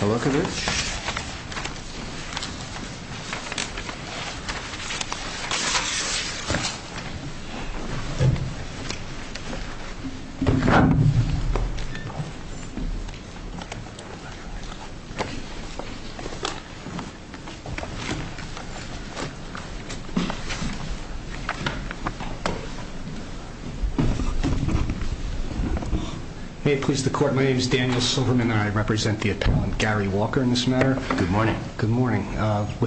Palakovich Good morning. With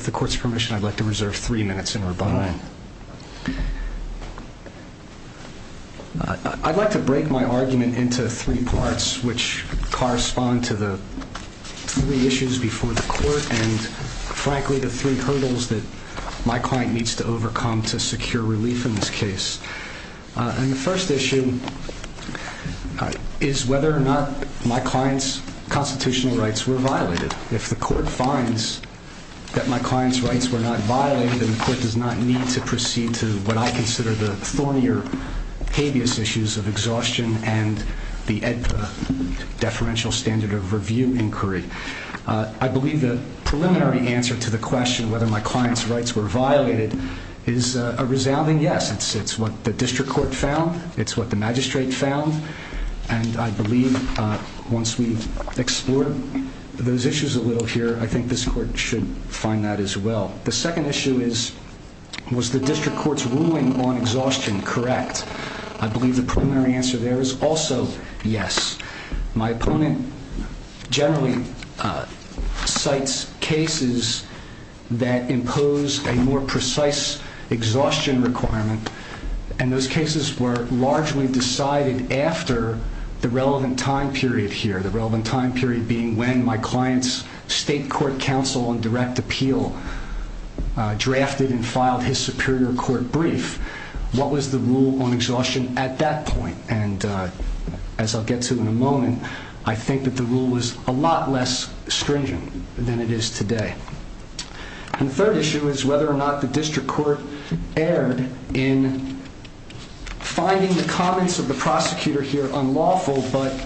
the court's permission, I'd like to reserve three minutes. I'd like to break my argument into three parts, which correspond to the three issues before the court and, frankly, the three hurdles that my client needs to overcome to secure relief in this case. The first issue is whether or not my client's constitutional rights were violated. If the court finds that my client's rights were not violated, then the court does not need to proceed to what I consider the thornier habeas issues of exhaustion and the deferential standard of review inquiry. I believe the preliminary answer to the question whether my client's rights were violated is a resounding yes. It's what the district court found. It's what the magistrate found. And I believe once we've explored those issues a little here, I think this court should find that as well. The second issue is, was the district court's ruling on exhaustion correct? I believe the preliminary answer there is also yes. My opponent generally cites cases that impose a more precise exhaustion requirement, and those cases were largely decided after the relevant time period here. The relevant time period being when my client's state court counsel on direct appeal drafted and filed his superior court brief. What was the rule on exhaustion at that point? And as I'll get to in a moment, I think that the rule was a lot less stringent than it is today. And the third issue is whether or not the district court erred in finding the comments of the prosecutor here unlawful, but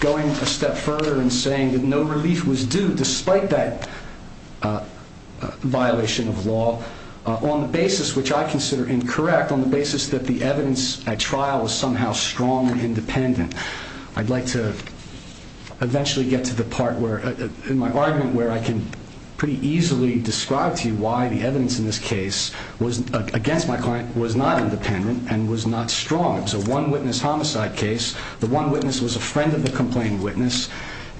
going a step further and saying that no relief was due despite that violation of law on the basis which I consider incorrect, on the basis that the evidence at trial was somehow strong and independent. I'd like to eventually get to the part where, in my argument, where I can pretty easily describe to you why the evidence in this case against my client was not independent and was not strong. It was a one witness homicide case. The one witness was a friend of the complaining witness,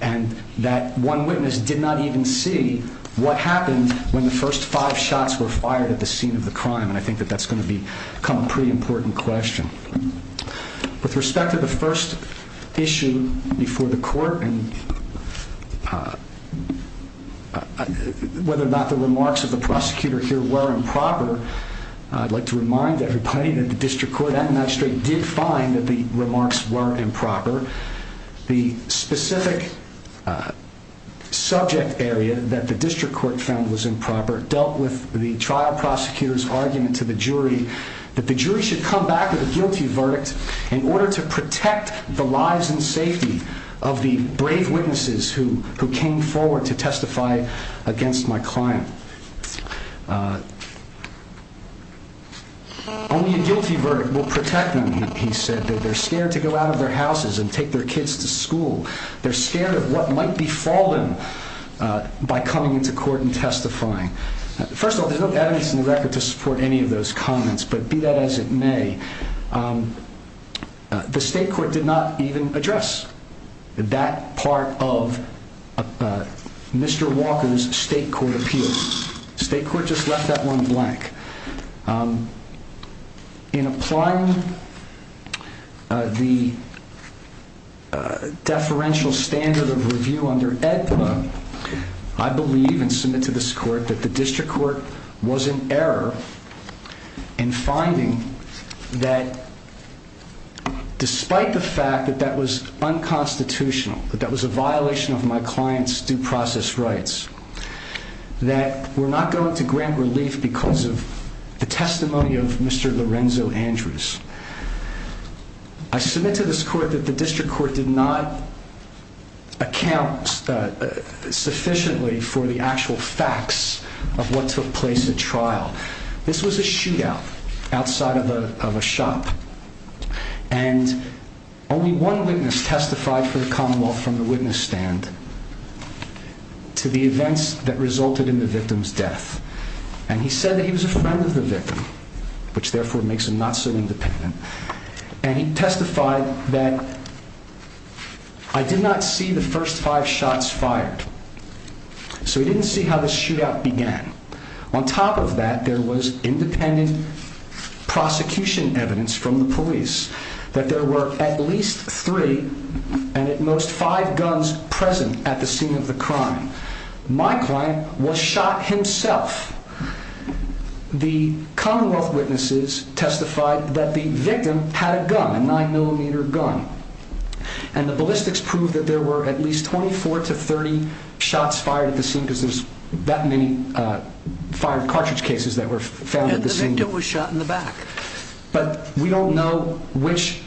and that one witness did not even see what happened when the first five shots were fired at the scene of the crime. And I think that that's going to become a pretty important question. With respect to the first issue before the court, and whether or not the remarks of the prosecutor here were improper, I'd like to remind everybody that the district court did find that the remarks were improper. The specific subject area that the district court found was improper dealt with the trial prosecutor's argument to the jury that the jury should come back with a guilty verdict. In order to protect the lives and safety of the brave witnesses who came forward to testify against my client. Only a guilty verdict will protect them, he said, that they're scared to go out of their houses and take their kids to school. They're scared of what might be fallen by coming into court and testifying. First of all, there's no evidence in the record to support any of those comments, but be that as it may, the state court did not even address that part of Mr. Walker's state court appeal. State court just left that one blank. In applying the deferential standard of review under AEDPA, I believe and submit to this court that the district court was in error in finding that despite the fact that that was unconstitutional, that that was a violation of my client's due process rights. That we're not going to grant relief because of the testimony of Mr. Lorenzo Andrews. I submit to this court that the district court did not account sufficiently for the actual facts of what took place at trial. This was a shootout outside of a shop. And only one witness testified for the Commonwealth from the witness stand to the events that resulted in the victim's death. And he said that he was a friend of the victim, which therefore makes him not so independent. And he testified that I did not see the first five shots fired. So we didn't see how the shootout began. On top of that, there was independent prosecution evidence from the police that there were at least three and at most five guns present at the scene of the crime. My client was shot himself. The Commonwealth witnesses testified that the victim had a gun, a nine millimeter gun. And the ballistics proved that there were at least 24 to 30 shots fired at the scene because there's that many fired cartridge cases that were found at the scene. But we don't know which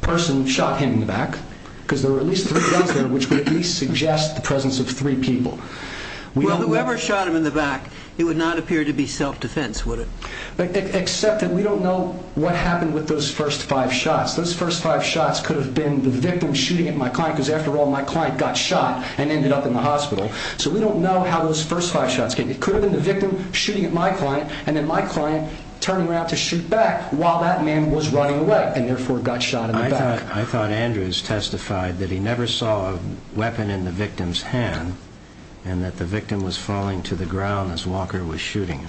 person shot him in the back because there were at least three guns there, which would suggest the presence of three people. Well, whoever shot him in the back, it would not appear to be self-defense, would it? Except that we don't know what happened with those first five shots. Those first five shots could have been the victim shooting at my client because after all, my client got shot and ended up in the hospital. So we don't know how those first five shots came. It could have been the victim shooting at my client and then my client turning around to shoot back while that man was running away and therefore got shot in the back. I thought Andrews testified that he never saw a weapon in the victim's hand and that the victim was falling to the ground as Walker was shooting.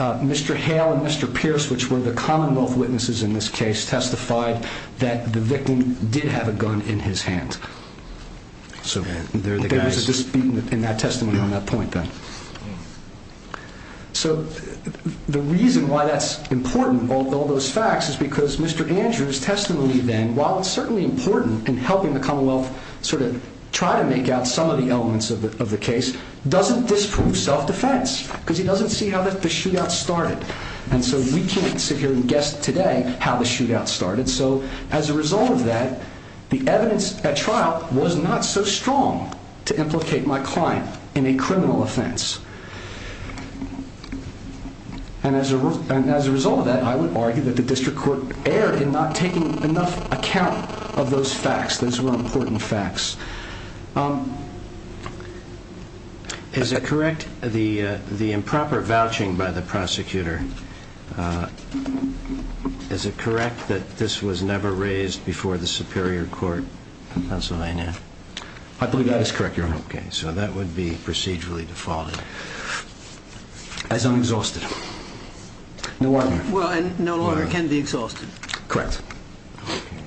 Mr. Hale and Mr. Pierce, which were the Commonwealth witnesses in this case, testified that the victim did have a gun in his hand. So there's a dispute in that testimony on that point then. So the reason why that's important, all those facts, is because Mr. Andrews' testimony then, while it's certainly important in helping the Commonwealth sort of try to make out some of the elements of the case, doesn't disprove self-defense. Because he doesn't see how the shootout started. And so we can't sit here and guess today how the shootout started. So as a result of that, the evidence at trial was not so strong to implicate my client in a criminal offense. And as a result of that, I would argue that the district court erred in not taking enough account of those facts. Those were important facts. Is it correct, the improper vouching by the prosecutor, is it correct that this was never raised before the Superior Court of Pennsylvania? I believe that is correct, Your Honor. Okay. So that would be procedurally defaulted. As unexhausted. No longer. Well, and no longer can be exhausted. Correct.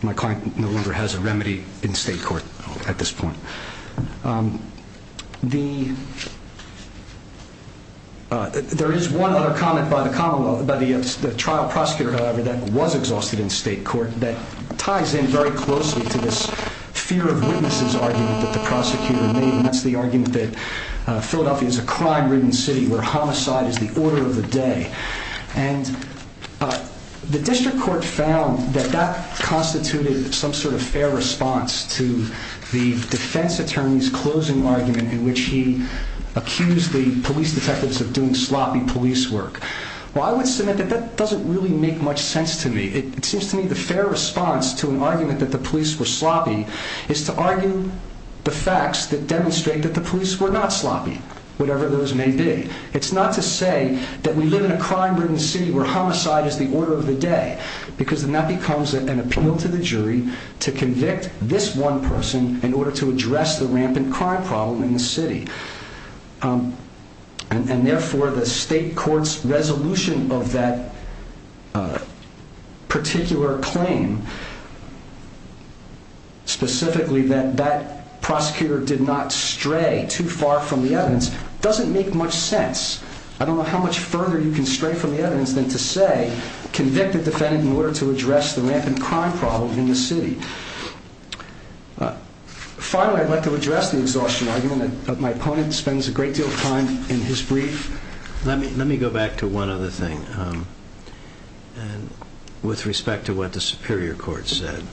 My client no longer has a remedy in state court at this point. There is one other comment by the trial prosecutor, however, that was exhausted in state court that ties in very closely to this fear of witnesses argument that the prosecutor made. And that's the argument that Philadelphia is a crime-ridden city where homicide is the order of the day. And the district court found that that constituted some sort of fair response to the defense attorney's closing argument in which he accused the police detectives of doing sloppy police work. Well, I would submit that that doesn't really make much sense to me. It seems to me the fair response to an argument that the police were sloppy is to argue the facts that demonstrate that the police were not sloppy, whatever those may be. It's not to say that we live in a crime-ridden city where homicide is the order of the day because then that becomes an appeal to the jury to convict this one person in order to address the rampant crime problem in the city. And therefore, the state court's resolution of that particular claim, specifically that that prosecutor did not stray too far from the evidence, doesn't make much sense. I don't know how much further you can stray from the evidence than to say convict a defendant in order to address the rampant crime problem in the city. Finally, I'd like to address the exhaustion argument that my opponent spends a great deal of time in his brief. Let me go back to one other thing with respect to what the superior court said.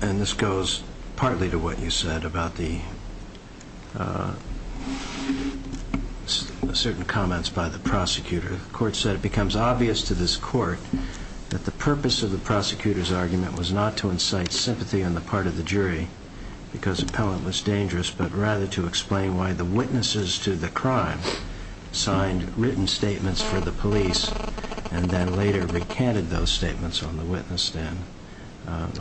And this goes partly to what you said about the certain comments by the prosecutor. The court said it becomes obvious to this court that the purpose of the prosecutor's argument was not to incite sympathy on the part of the jury because appellant was dangerous, but rather to explain why the witnesses to the crime signed written statements for the police and then later recanted those statements on the witness stand.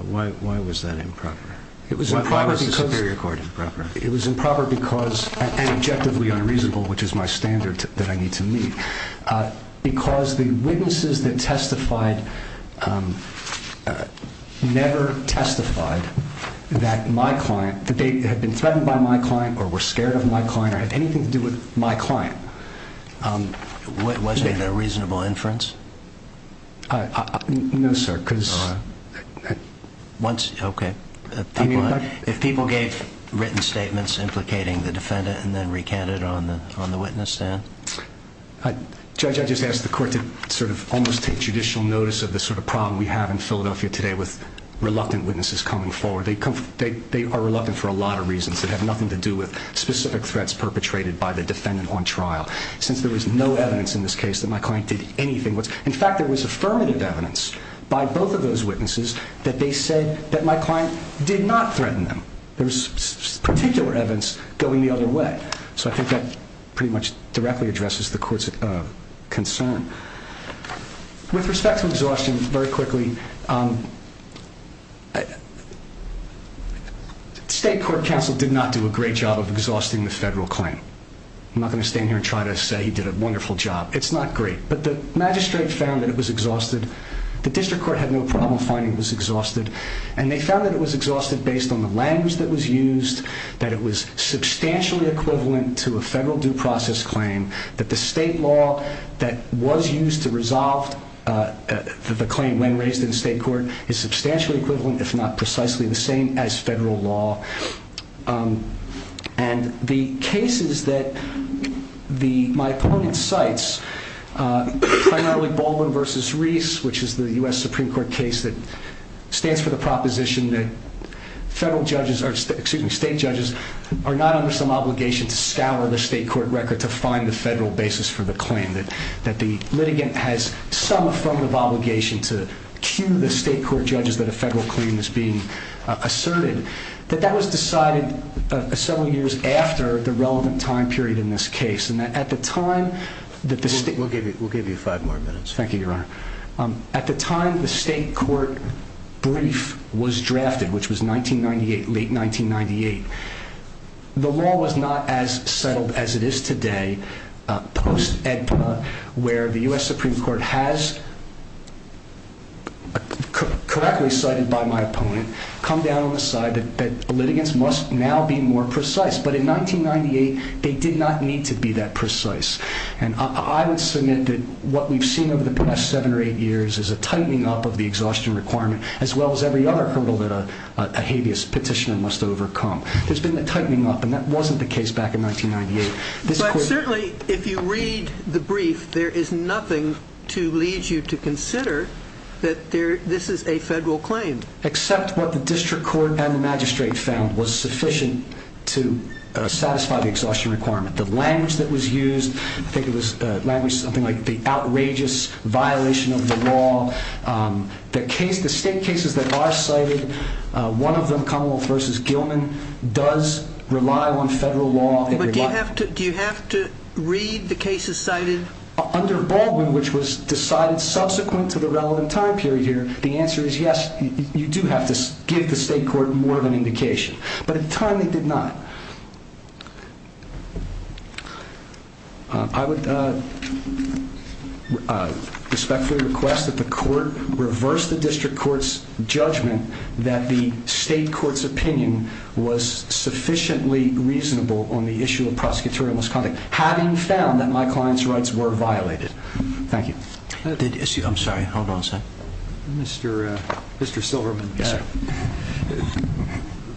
Why was that improper? Why was the superior court improper? It was improper because, and objectively unreasonable, which is my standard that I need to meet, because the witnesses that testified never testified that my client, that they had been threatened by my client or were scared of my client or had anything to do with my client. Was it a reasonable inference? No, sir. Okay. If people gave written statements implicating the defendant and then recanted on the witness stand? Judge, I just ask the court to sort of almost take judicial notice of the sort of problem we have in Philadelphia today with reluctant witnesses coming forward. They are reluctant for a lot of reasons that have nothing to do with specific threats perpetrated by the defendant on trial. Since there was no evidence in this case that my client did anything. In fact, there was affirmative evidence by both of those witnesses that they said that my client did not threaten them. There was particular evidence going the other way. So I think that pretty much directly addresses the court's concern. With respect to exhaustion, very quickly, state court counsel did not do a great job of exhausting the federal claim. I'm not going to stand here and try to say he did a wonderful job. It's not great. But the magistrate found that it was exhausted. The district court had no problem finding it was exhausted. And they found that it was exhausted based on the language that was used, that it was substantially equivalent to a federal due process claim, that the state law that was used to resolve the claim when raised in state court is substantially equivalent, if not precisely the same as federal law. And the cases that my opponent cites, primarily Baldwin v. Reese, which is the U.S. Supreme Court case that stands for the proposition that federal judges, excuse me, state judges are not under some obligation to scour the state court record to find the federal basis for the claim, that the litigant has some affirmative obligation to cue the state court judges that a federal claim is being asserted. That that was decided several years after the relevant time period in this case. And that at the time that the state- We'll give you five more minutes. Thank you, Your Honor. At the time the state court brief was drafted, which was 1998, late 1998, the law was not as settled as it is today, post-EDPA, where the U.S. Supreme Court has, correctly cited by my opponent, come down on the side that litigants must now be more precise. But in 1998, they did not need to be that precise. And I would submit that what we've seen over the past seven or eight years is a tightening up of the exhaustion requirement, as well as every other hurdle that a habeas petitioner must overcome. There's been a tightening up, and that wasn't the case back in 1998. But certainly, if you read the brief, there is nothing to lead you to consider that this is a federal claim. Except what the district court and the magistrate found was sufficient to satisfy the exhaustion requirement. The language that was used, I think it was something like the outrageous violation of the law. The state cases that are cited, one of them, Commonwealth v. Gilman, does rely on federal law. But do you have to read the cases cited? Under Baldwin, which was decided subsequent to the relevant time period here, the answer is yes, you do have to give the state court more of an indication. But at the time, they did not. I would respectfully request that the court reverse the district court's judgment that the state court's opinion was sufficiently reasonable on the issue of prosecutorial misconduct, having found that my client's rights were violated. Thank you. I'm sorry, hold on a second. Mr. Silverman,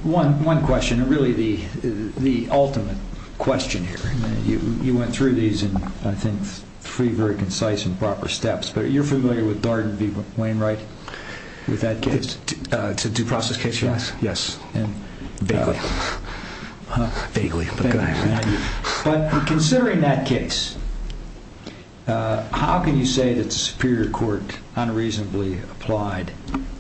one question, and really the ultimate question here. You went through these in, I think, three very concise and proper steps. You're familiar with Darden v. Wainwright, with that case? It's a due process case, yes. Vaguely. But considering that case, how can you say that the Superior Court unreasonably applied,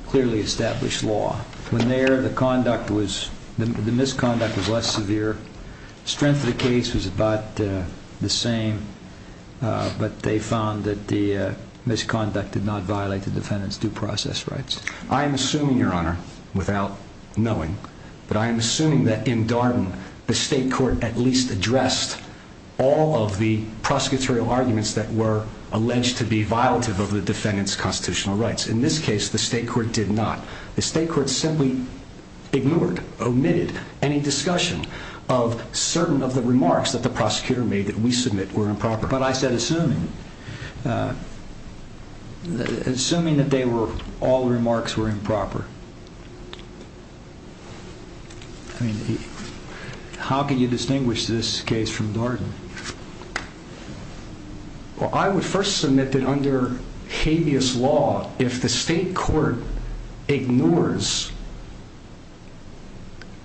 clearly established law, when there the misconduct was less severe, strength of the case was about the same, but they found that the misconduct did not violate the defendant's due process rights? I'm assuming, Your Honor, without knowing, but I'm assuming that in Darden the state court at least addressed all of the prosecutorial arguments that were alleged to be violative of the defendant's constitutional rights. In this case, the state court did not. The state court simply ignored, omitted any discussion of certain of the remarks that the prosecutor made that we submit were improper. But I said assuming. Assuming that all remarks were improper. How can you distinguish this case from Darden? Well, I would first submit that under habeas law, if the state court ignores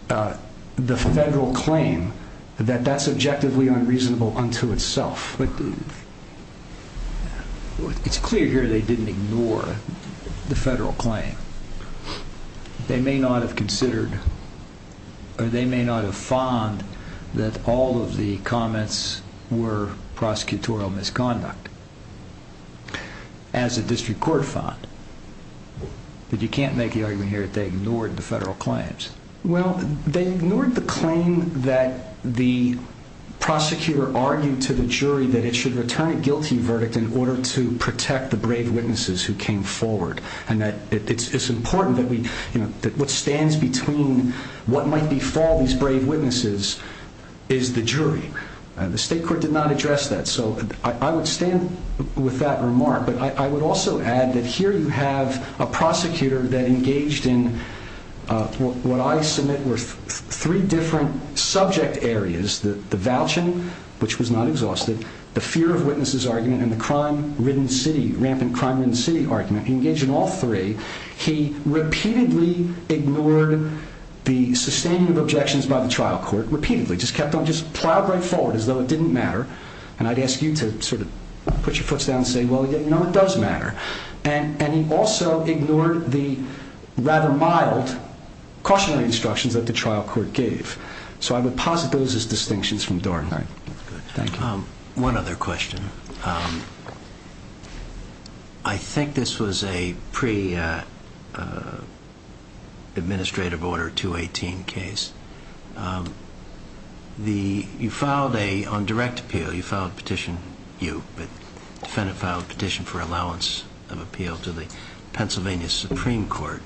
the federal claim, that that's objectively unreasonable unto itself. It's clear here they didn't ignore the federal claim. They may not have considered, or they may not have found, that all of the comments were prosecutorial misconduct. As the district court found. But you can't make the argument here that they ignored the federal claims. Well, they ignored the claim that the prosecutor argued to the jury that it should return a guilty verdict in order to protect the brave witnesses who came forward. And that it's important that what stands between what might befall these brave witnesses is the jury. The state court did not address that. So I would stand with that remark. But I would also add that here you have a prosecutor that engaged in what I submit were three different subject areas. The vouching, which was not exhausted. The fear of witnesses argument. And the crime-ridden city, rampant crime-ridden city argument. He engaged in all three. He repeatedly ignored the sustaining of objections by the trial court. Repeatedly. Just kept on, just plowed right forward as though it didn't matter. And I'd ask you to sort of put your foots down and say, well, no, it does matter. And he also ignored the rather mild cautionary instructions that the trial court gave. So I would posit those as distinctions from Dorn. All right. Thank you. One other question. I think this was a pre-administrative order 218 case. You filed a, on direct appeal, you filed a petition, you, the defendant filed a petition for allowance of appeal to the Pennsylvania Supreme Court.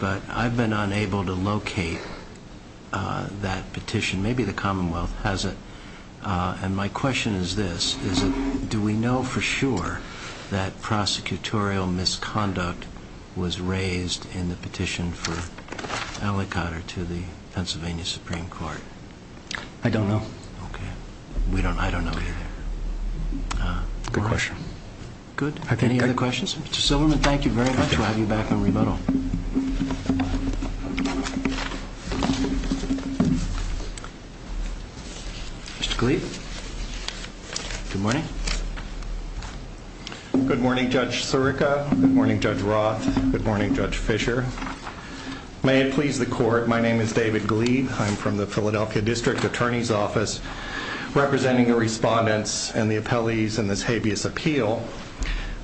But I've been unable to locate that petition. Maybe the Commonwealth has it. And my question is this. Is it, do we know for sure that prosecutorial misconduct was raised in the petition for aliquot or to the Pennsylvania Supreme Court? I don't know. Okay. We don't, I don't know either. Good question. Good. Any other questions? Mr. Silverman, thank you very much. We'll have you back on rebuttal. Mr. Gleeb. Good morning. Good morning, Judge Sirica. Good morning, Judge Roth. Good morning, Judge Fisher. May it please the court, my name is David Gleeb. I'm from the Philadelphia District Attorney's Office, representing the respondents and the appellees in this habeas appeal.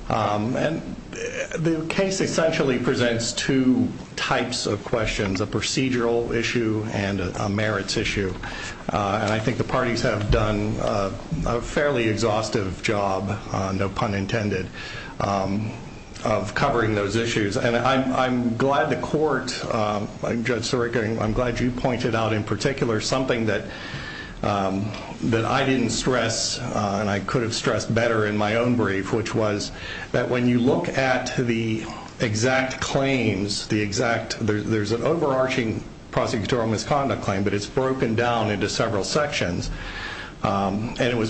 And the case essentially presents two types of questions, a procedural issue and a merits issue. And I think the parties have done a fairly exhaustive job, no pun intended, of covering those issues. And I'm glad the court, Judge Sirica, I'm glad you pointed out in particular something that I didn't stress, and I could have stressed better in my own brief, which was that when you look at the exact claims, the exact, there's an overarching prosecutorial misconduct claim, but it's broken down into several sections. And it was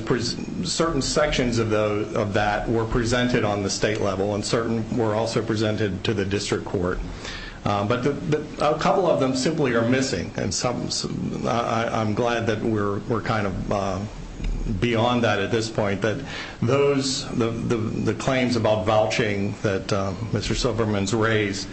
certain sections of that were presented on the state level and certain were also presented to the district court. But a couple of them simply are missing. And I'm glad that we're kind of beyond that at this point, that the claims about vouching that Mr. Silverman's raised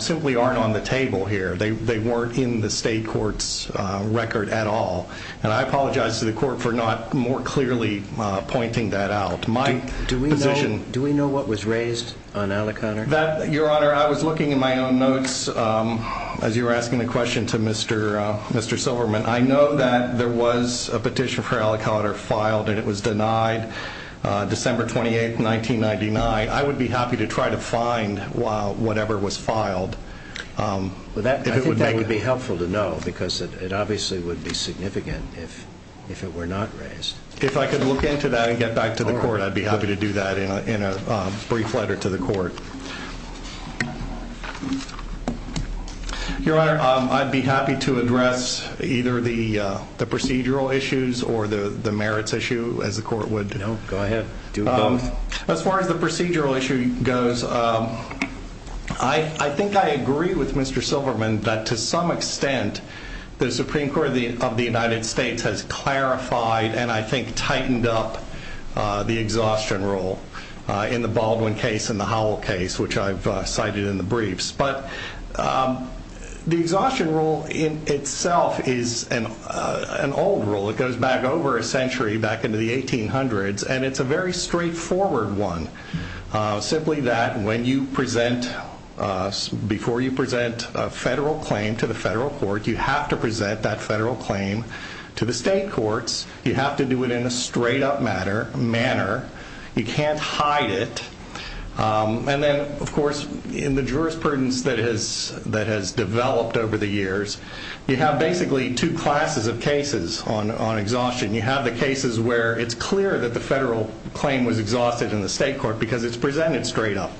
simply aren't on the table here. They weren't in the state court's record at all. And I apologize to the court for not more clearly pointing that out. My position. Do we know what was raised on Allocounter? Your Honor, I was looking in my own notes as you were asking the question to Mr. Silverman. I know that there was a petition for Allocounter filed and it was denied December 28, 1999. I would be happy to try to find whatever was filed. I think that would be helpful to know because it obviously would be significant if it were not raised. If I could look into that and get back to the court, I'd be happy to do that in a brief letter to the court. Your Honor, I'd be happy to address either the procedural issues or the merits issue as the court would. No, go ahead. Do both. As far as the procedural issue goes, I think I agree with Mr. Silverman that to some extent the Supreme Court of the United States has clarified and I think tightened up the exhaustion rule in the Baldwin case and the Howell case, which I've cited in the briefs. But the exhaustion rule in itself is an old rule. It goes back over a century, back into the 1800s. It's a very straightforward one, simply that before you present a federal claim to the federal court, you have to present that federal claim to the state courts. You have to do it in a straight-up manner. You can't hide it. Then, of course, in the jurisprudence that has developed over the years, you have basically two classes of cases on exhaustion. You have the cases where it's clear that the federal claim was exhausted in the state court because it's presented straight up.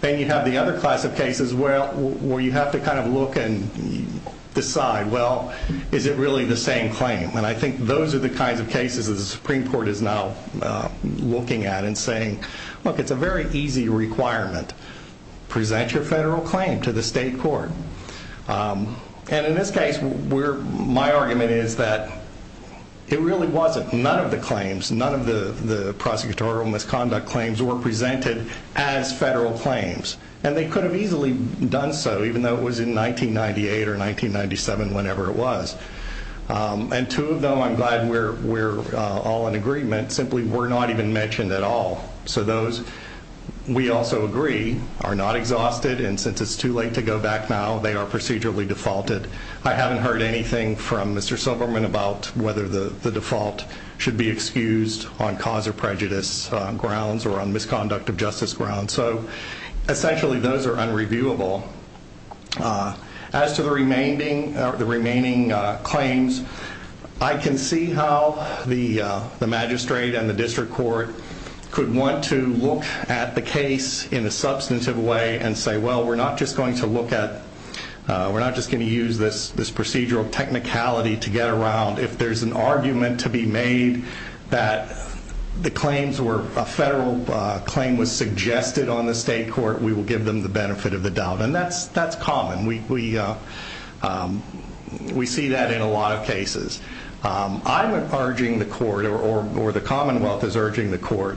Then you have the other class of cases where you have to kind of look and decide, well, is it really the same claim? And I think those are the kinds of cases that the Supreme Court is now looking at and saying, look, it's a very easy requirement. Present your federal claim to the state court. And in this case, my argument is that it really wasn't. None of the claims, none of the prosecutorial misconduct claims were presented as federal claims. And they could have easily done so, even though it was in 1998 or 1997, whenever it was. And two of them, I'm glad we're all in agreement, simply were not even mentioned at all. So those, we also agree, are not exhausted. And since it's too late to go back now, they are procedurally defaulted. I haven't heard anything from Mr. Silverman about whether the default should be excused on cause or prejudice grounds or on misconduct of justice grounds. So, essentially, those are unreviewable. As to the remaining claims, I can see how the magistrate and the district court could want to look at the case in a substantive way and say, well, we're not just going to use this procedural technicality to get around. If there's an argument to be made that a federal claim was suggested on the state court, we will give them the benefit of the doubt. And that's common. We see that in a lot of cases. I'm urging the court, or the Commonwealth is urging the court,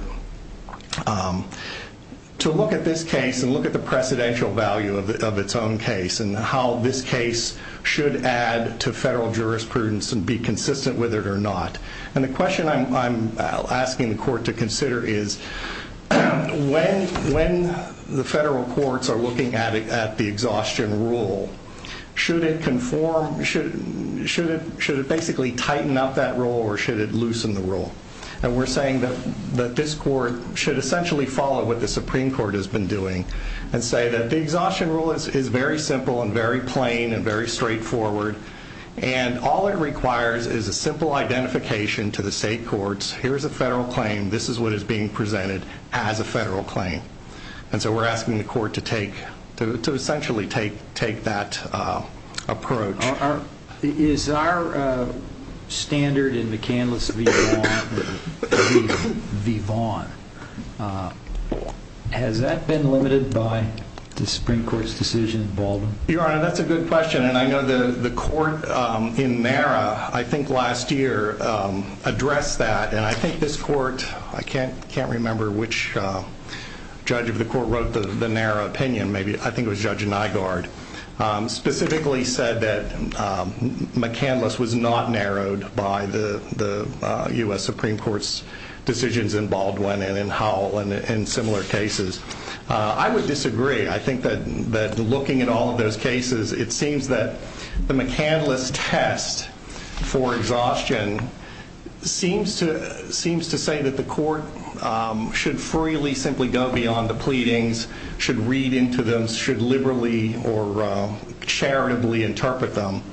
to look at this case and look at the precedential value of its own case and how this case should add to federal jurisprudence and be consistent with it or not. And the question I'm asking the court to consider is when the federal courts are looking at the exhaustion rule, should it basically tighten up that rule or should it loosen the rule? And we're saying that this court should essentially follow what the Supreme Court has been doing and say that the exhaustion rule is very simple and very plain and very straightforward and all it requires is a simple identification to the state courts. Here's a federal claim. This is what is being presented as a federal claim. And so we're asking the court to essentially take that approach. Is our standard in McCandless v. Vaughan, has that been limited by the Supreme Court's decision in Baldwin? Your Honor, that's a good question, and I know the court in NARA I think last year addressed that, and I think this court, I can't remember which judge of the court wrote the NARA opinion, maybe I think it was Judge Nygaard, specifically said that McCandless was not narrowed by the U.S. Supreme Court's decisions in Baldwin and in Howell and in similar cases. I would disagree. I think that looking at all of those cases, it seems that the McCandless test for exhaustion seems to say that the court should freely simply go beyond the pleadings, should read into them, should liberally or charitably interpret them.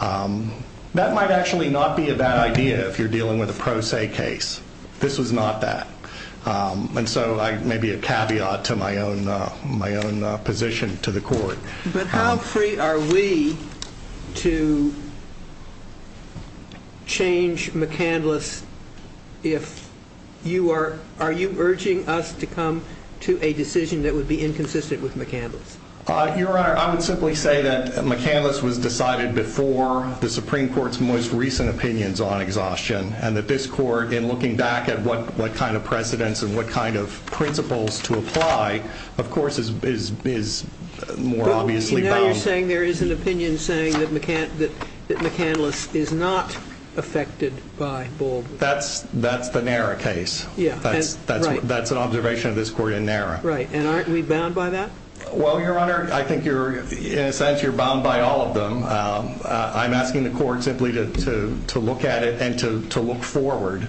That might actually not be a bad idea if you're dealing with a pro se case. This was not that. And so maybe a caveat to my own position to the court. But how free are we to change McCandless if you are, are you urging us to come to a decision that would be inconsistent with McCandless? Your Honor, I would simply say that McCandless was decided before the Supreme Court's most recent opinions on exhaustion and that this court, in looking back at what kind of precedents and what kind of principles to apply, of course is more obviously bound. Now you're saying there is an opinion saying that McCandless is not affected by Baldwin. That's the NARA case. That's an observation of this court in NARA. Right. And aren't we bound by that? Well, Your Honor, I think in a sense you're bound by all of them. I'm asking the court simply to look at it and to look forward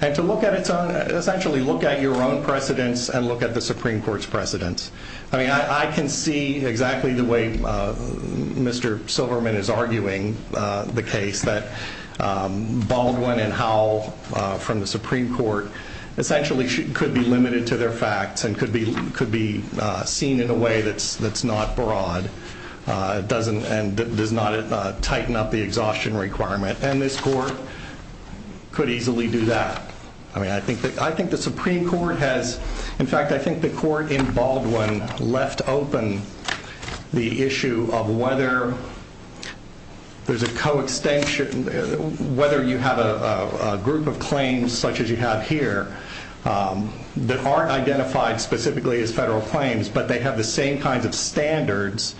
and to look at its own, essentially look at your own precedents and look at the Supreme Court's precedents. I mean, I can see exactly the way Mr. Silverman is arguing the case that Baldwin and Howell from the Supreme Court essentially could be limited to their facts and could be seen in a way that's not broad. It doesn't, and does not tighten up the exhaustion requirement. And this court could easily do that. I mean, I think the Supreme Court has, in fact, I think the court in Baldwin left open the issue of whether there's a coextension, whether you have a group of claims such as you have here that aren't identified specifically as federal claims, but they have the same kinds of standards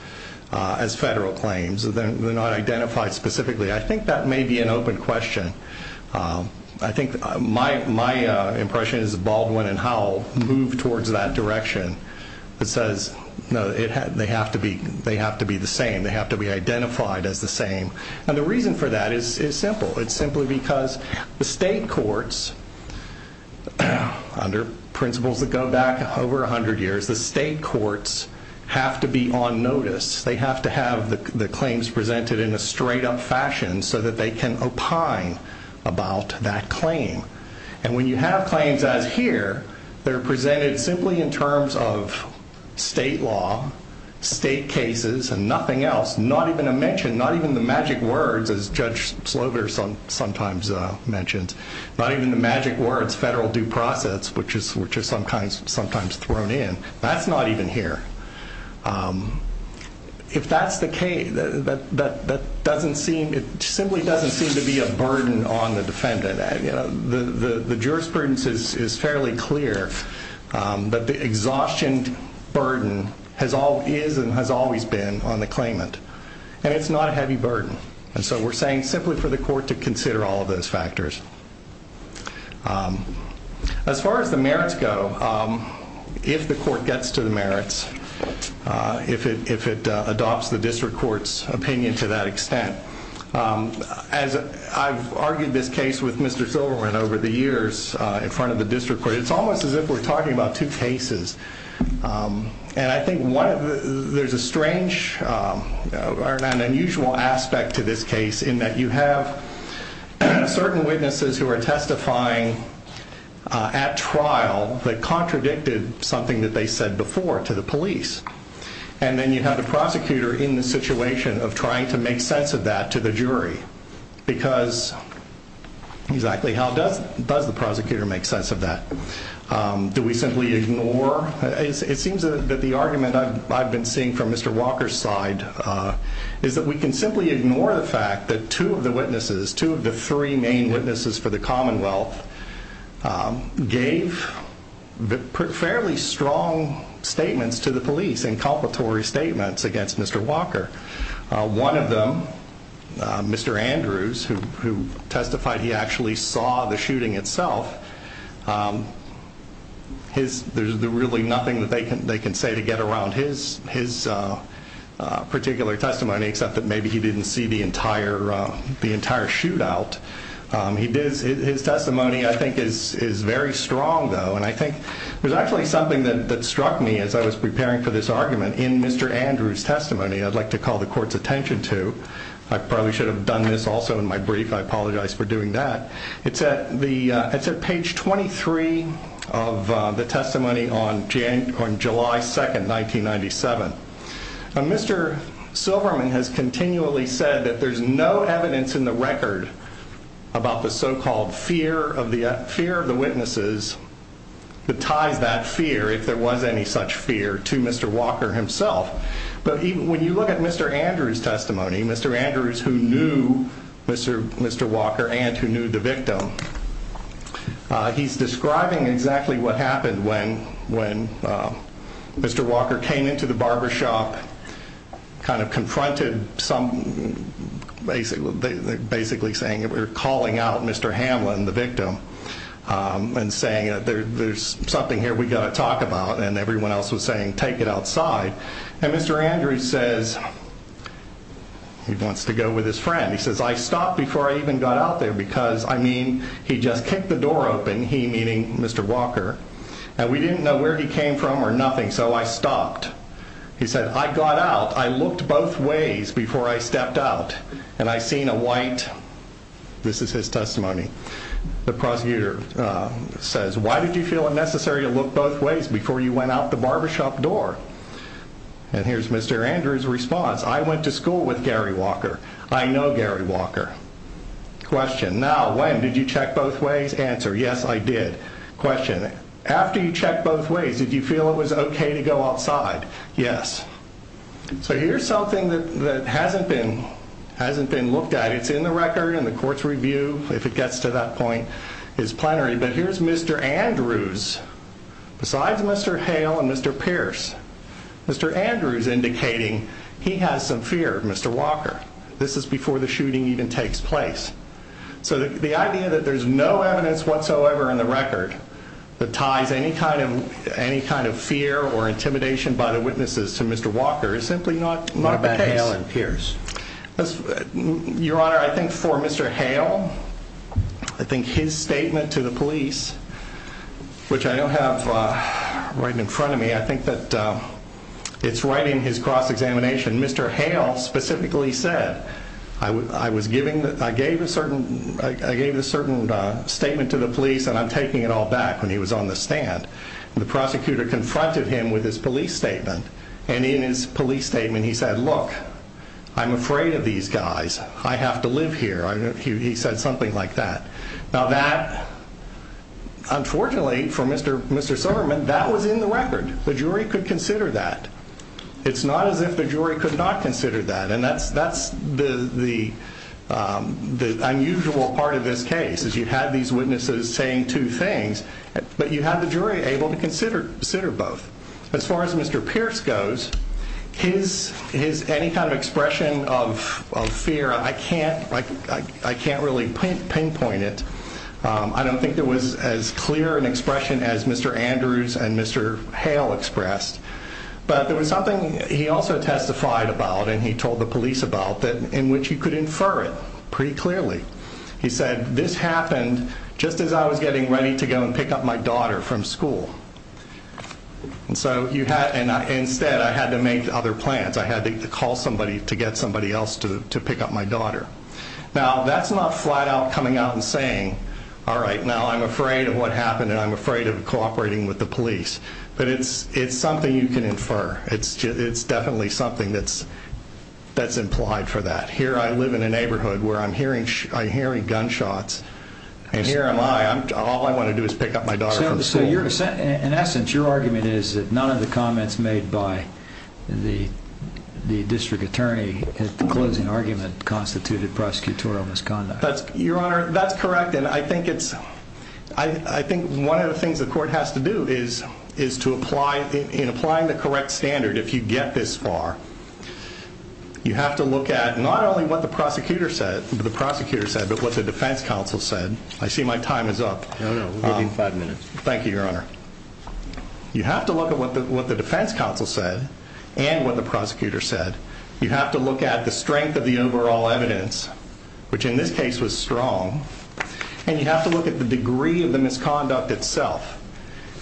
as federal claims. They're not identified specifically. I think that may be an open question. I think my impression is that Baldwin and Howell moved towards that direction that says, no, they have to be the same. They have to be identified as the same. And the reason for that is simple. It's simply because the state courts, under principles that go back over 100 years, the state courts have to be on notice. They have to have the claims presented in a straight-up fashion so that they can opine about that claim. And when you have claims as here, they're presented simply in terms of state law, state cases, and nothing else, not even a mention, not even the magic words, as Judge Slovar sometimes mentions, not even the magic words, the federal due process, which is sometimes thrown in. That's not even here. If that's the case, it simply doesn't seem to be a burden on the defendant. The jurisprudence is fairly clear that the exhaustion burden is and has always been on the claimant, and it's not a heavy burden. And so we're saying simply for the court to consider all of those factors. As far as the merits go, if the court gets to the merits, if it adopts the district court's opinion to that extent, as I've argued this case with Mr. Silverman over the years in front of the district court, it's almost as if we're talking about two cases. And I think there's a strange or an unusual aspect to this case in that you have certain witnesses who are testifying at trial that contradicted something that they said before to the police. And then you have the prosecutor in the situation of trying to make sense of that to the jury because exactly how does the prosecutor make sense of that? Do we simply ignore? It seems that the argument I've been seeing from Mr. Walker's side is that we can simply ignore the fact that two of the witnesses, two of the three main witnesses for the Commonwealth, gave fairly strong statements to the police, incompletory statements against Mr. Walker. One of them, Mr. Andrews, who testified he actually saw the shooting itself, there's really nothing that they can say to get around his particular testimony except that maybe he didn't see the entire shootout. His testimony, I think, is very strong, though. And I think there's actually something that struck me as I was preparing for this argument in Mr. Andrews' testimony I'd like to call the court's attention to. I probably should have done this also in my brief. I apologize for doing that. It's at page 23 of the testimony on July 2, 1997. Mr. Silverman has continually said that there's no evidence in the record about the so-called fear of the witnesses that ties that fear, if there was any such fear, to Mr. Walker himself. But when you look at Mr. Andrews' testimony, Mr. Andrews who knew Mr. Walker and who knew the victim, he's describing exactly what happened when Mr. Walker came into the barbershop, kind of confronted some, basically saying or calling out Mr. Hamlin, the victim, and saying there's something here we've got to talk about, and everyone else was saying take it outside. And Mr. Andrews says, he wants to go with his friend, he says I stopped before I even got out there because, I mean, he just kicked the door open, he meaning Mr. Walker, and we didn't know where he came from or nothing, so I stopped. He said I got out, I looked both ways before I stepped out, and I seen a white, this is his testimony, the prosecutor, says why did you feel it necessary to look both ways before you went out the barbershop door? And here's Mr. Andrews' response, I went to school with Gary Walker, I know Gary Walker. Question, now when, did you check both ways? Answer, yes, I did. Question, after you checked both ways, did you feel it was okay to go outside? Yes. So here's something that hasn't been looked at, it's in the record in the court's review, if it gets to that point, but here's Mr. Andrews, besides Mr. Hale and Mr. Pierce, Mr. Andrews indicating he has some fear of Mr. Walker. This is before the shooting even takes place. So the idea that there's no evidence whatsoever in the record that ties any kind of fear or intimidation by the witnesses to Mr. Walker is simply not the case. What about Hale and Pierce? Your Honor, I think for Mr. Hale, I think his statement to the police, which I don't have right in front of me, I think that it's right in his cross-examination. Mr. Hale specifically said, I was giving, I gave a certain statement to the police and I'm taking it all back when he was on the stand. The prosecutor confronted him with his police statement and in his police statement he said, look, I'm afraid of these guys. I have to live here. He said something like that. Now that, unfortunately for Mr. Silverman, that was in the record. The jury could consider that. It's not as if the jury could not consider that and that's the unusual part of this case is you have these witnesses saying two things, but you have the jury able to consider both. As far as Mr. Pierce goes, his any kind of expression of fear, I can't really pinpoint it. I don't think there was as clear an expression as Mr. Andrews and Mr. Hale expressed, but there was something he also testified about and he told the police about in which he could infer it pretty clearly. He said, this happened just as I was getting ready to go and pick up my daughter from school. And so instead I had to make other plans. I had to call somebody to get somebody else to pick up my daughter. Now that's not flat out coming out and saying, all right, now I'm afraid of what happened and I'm afraid of cooperating with the police, but it's something you can infer. It's definitely something that's implied for that. Here I live in a neighborhood where I'm hearing gunshots In essence, your argument is that none of the comments made by the district attorney at the closing argument constituted prosecutorial misconduct. Your Honor, that's correct. And I think one of the things the court has to do is in applying the correct standard, if you get this far, you have to look at not only what the prosecutor said, but what the defense counsel said. I see my time is up. No, no, we'll give you five minutes. Thank you, Your Honor. You have to look at what the defense counsel said and what the prosecutor said. You have to look at the strength of the overall evidence, which in this case was strong, and you have to look at the degree of the misconduct itself.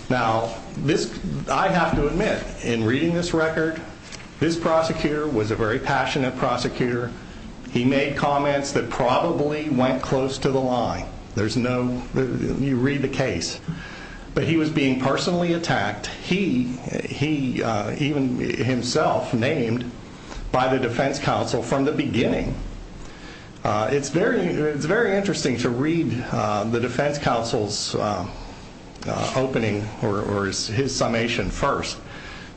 Now, I have to admit, in reading this record, this prosecutor was a very passionate prosecutor. He made comments that probably went close to the line. There's no... you read the case. But he was being personally attacked. He, even himself, named by the defense counsel from the beginning. It's very interesting to read the defense counsel's opening or his summation first,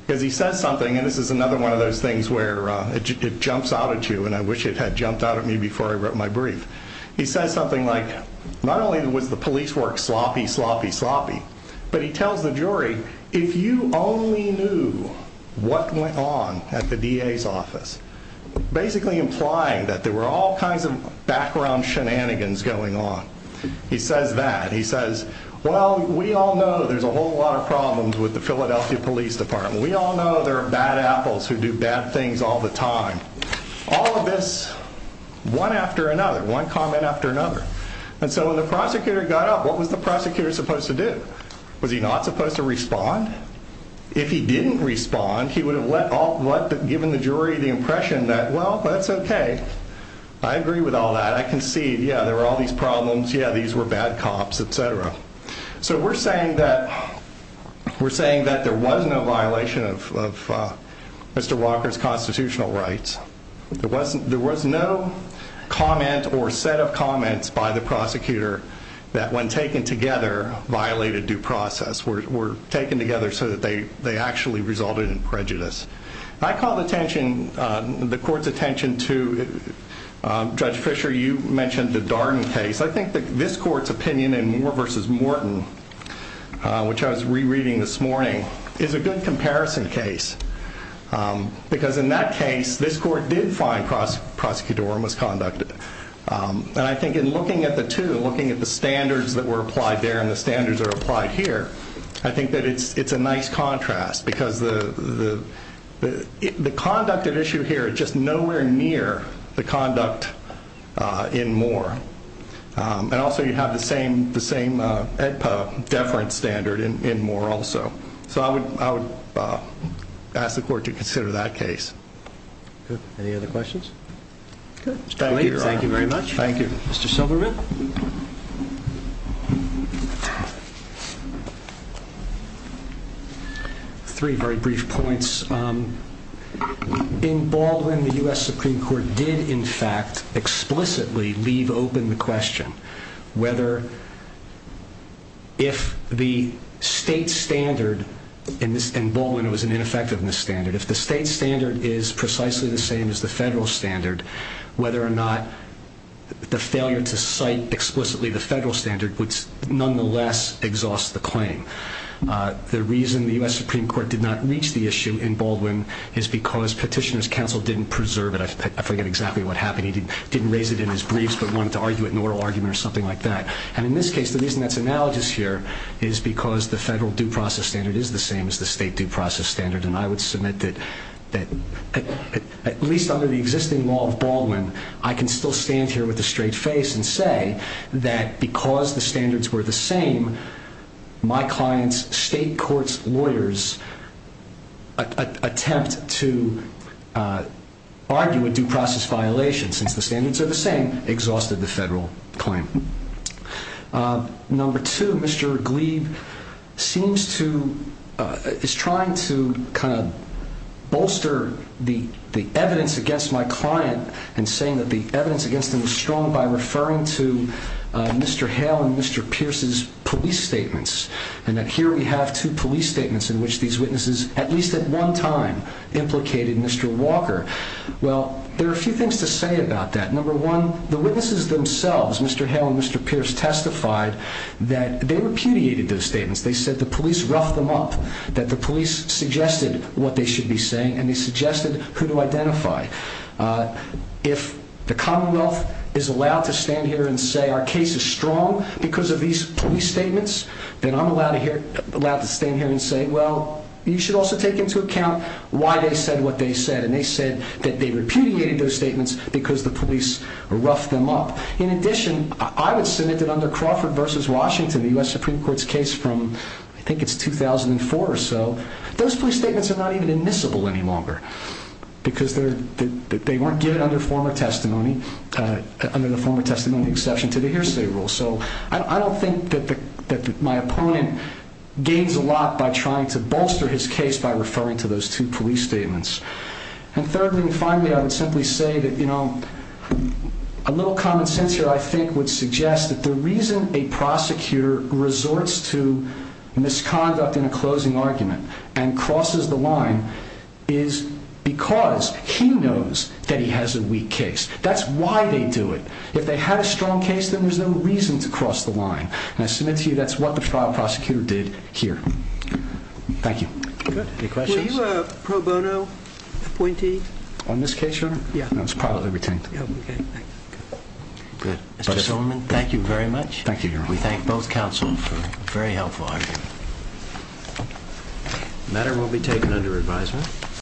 because he says something, and this is another one of those things where it jumps out at you, and I wish it had jumped out at me before I wrote my brief. He says something like, not only was the police work sloppy, sloppy, sloppy, but he tells the jury, if you only knew what went on at the DA's office, basically implying that there were all kinds of background shenanigans going on. He says that. He says, well, we all know there's a whole lot of problems with the Philadelphia Police Department. We all know there are bad apples who do bad things all the time. All of this, one after another, one comment after another. And so when the prosecutor got up, what was the prosecutor supposed to do? Was he not supposed to respond? If he didn't respond, he would have given the jury the impression that, well, that's okay. I agree with all that. I concede. Yeah, there were all these problems. Yeah, these were bad cops, et cetera. So we're saying that there was no violation of Mr. Walker's constitutional rights. There was no comment or set of comments by the prosecutor that when taken together violated due process, were taken together so that they actually resulted in prejudice. I call the court's attention to, Judge Fisher, you mentioned the Darden case. I think this court's opinion in Moore v. Morton, which I was rereading this morning, is a good comparison case. Because in that case, this court did find prosecutorial misconduct. And I think in looking at the two, looking at the standards that were applied there and the standards that are applied here, I think that it's a nice contrast. Because the conduct at issue here is just nowhere near the conduct in Moore. And also you have the same EDPO deference standard in Moore also. So I would ask the court to consider that case. Any other questions? Thank you very much. Thank you. Mr. Silverman? Three very brief points. In Baldwin, the U.S. Supreme Court did, in fact, explicitly leave open the question whether if the state standard in Baldwin was an ineffectiveness standard, if the state standard is precisely the same as the federal standard, whether or not the failure to cite explicitly the federal standard would nonetheless exhaust the claim. The reason the U.S. Supreme Court did not reach the issue in Baldwin is because Petitioner's Counsel didn't preserve it. I forget exactly what happened. He didn't raise it in his briefs, but wanted to argue it in an oral argument or something like that. And in this case, the reason that's analogous here is because the federal due process standard is the same as the state due process standard. And I would submit that at least under the existing law of Baldwin, I can still stand here with a straight face and say that because the standards were the same, my client's state court's lawyers attempt to argue a due process violation since the standards are the same, exhausted the federal claim. Number two, Mr. Glebe seems to, is trying to kind of bolster the evidence against my client and saying that the evidence against him was strong by referring to Mr. Hale and Mr. Pierce's police statements, and that here we have two police statements in which these witnesses at least at one time implicated Mr. Walker. Well, there are a few things to say about that. Number one, the witnesses themselves, Mr. Hale and Mr. Pierce, testified that they repudiated those statements. They said the police roughed them up, that the police suggested what they should be saying, and they suggested who to identify. If the Commonwealth is allowed to stand here and say our case is strong because of these police statements, then I'm allowed to stand here and say, well, you should also take into account why they said what they said. And they said that they repudiated those statements because the police roughed them up. In addition, I would submit that under Crawford v. Washington, the U.S. Supreme Court's case from, I think it's 2004 or so, those police statements are not even admissible any longer because they weren't given under former testimony, under the former testimony exception to the hearsay rule. So I don't think that my opponent gains a lot by trying to bolster his case by referring to those two police statements. And thirdly and finally, I would simply say that, you know, a little common sense here, I think, would suggest that the reason a prosecutor resorts to misconduct in a closing argument and crosses the line is because he knows that he has a weak case. That's why they do it. If they had a strong case, then there's no reason to cross the line. And I submit to you that's what the trial prosecutor did here. Thank you. Any questions? Were you a pro bono appointee? On this case, Your Honor? Yeah. No, it's privately retained. Oh, okay. Good. Mr. Solomon, thank you very much. Thank you, Your Honor. We thank both counsel for a very helpful argument. The matter will be taken under advisement.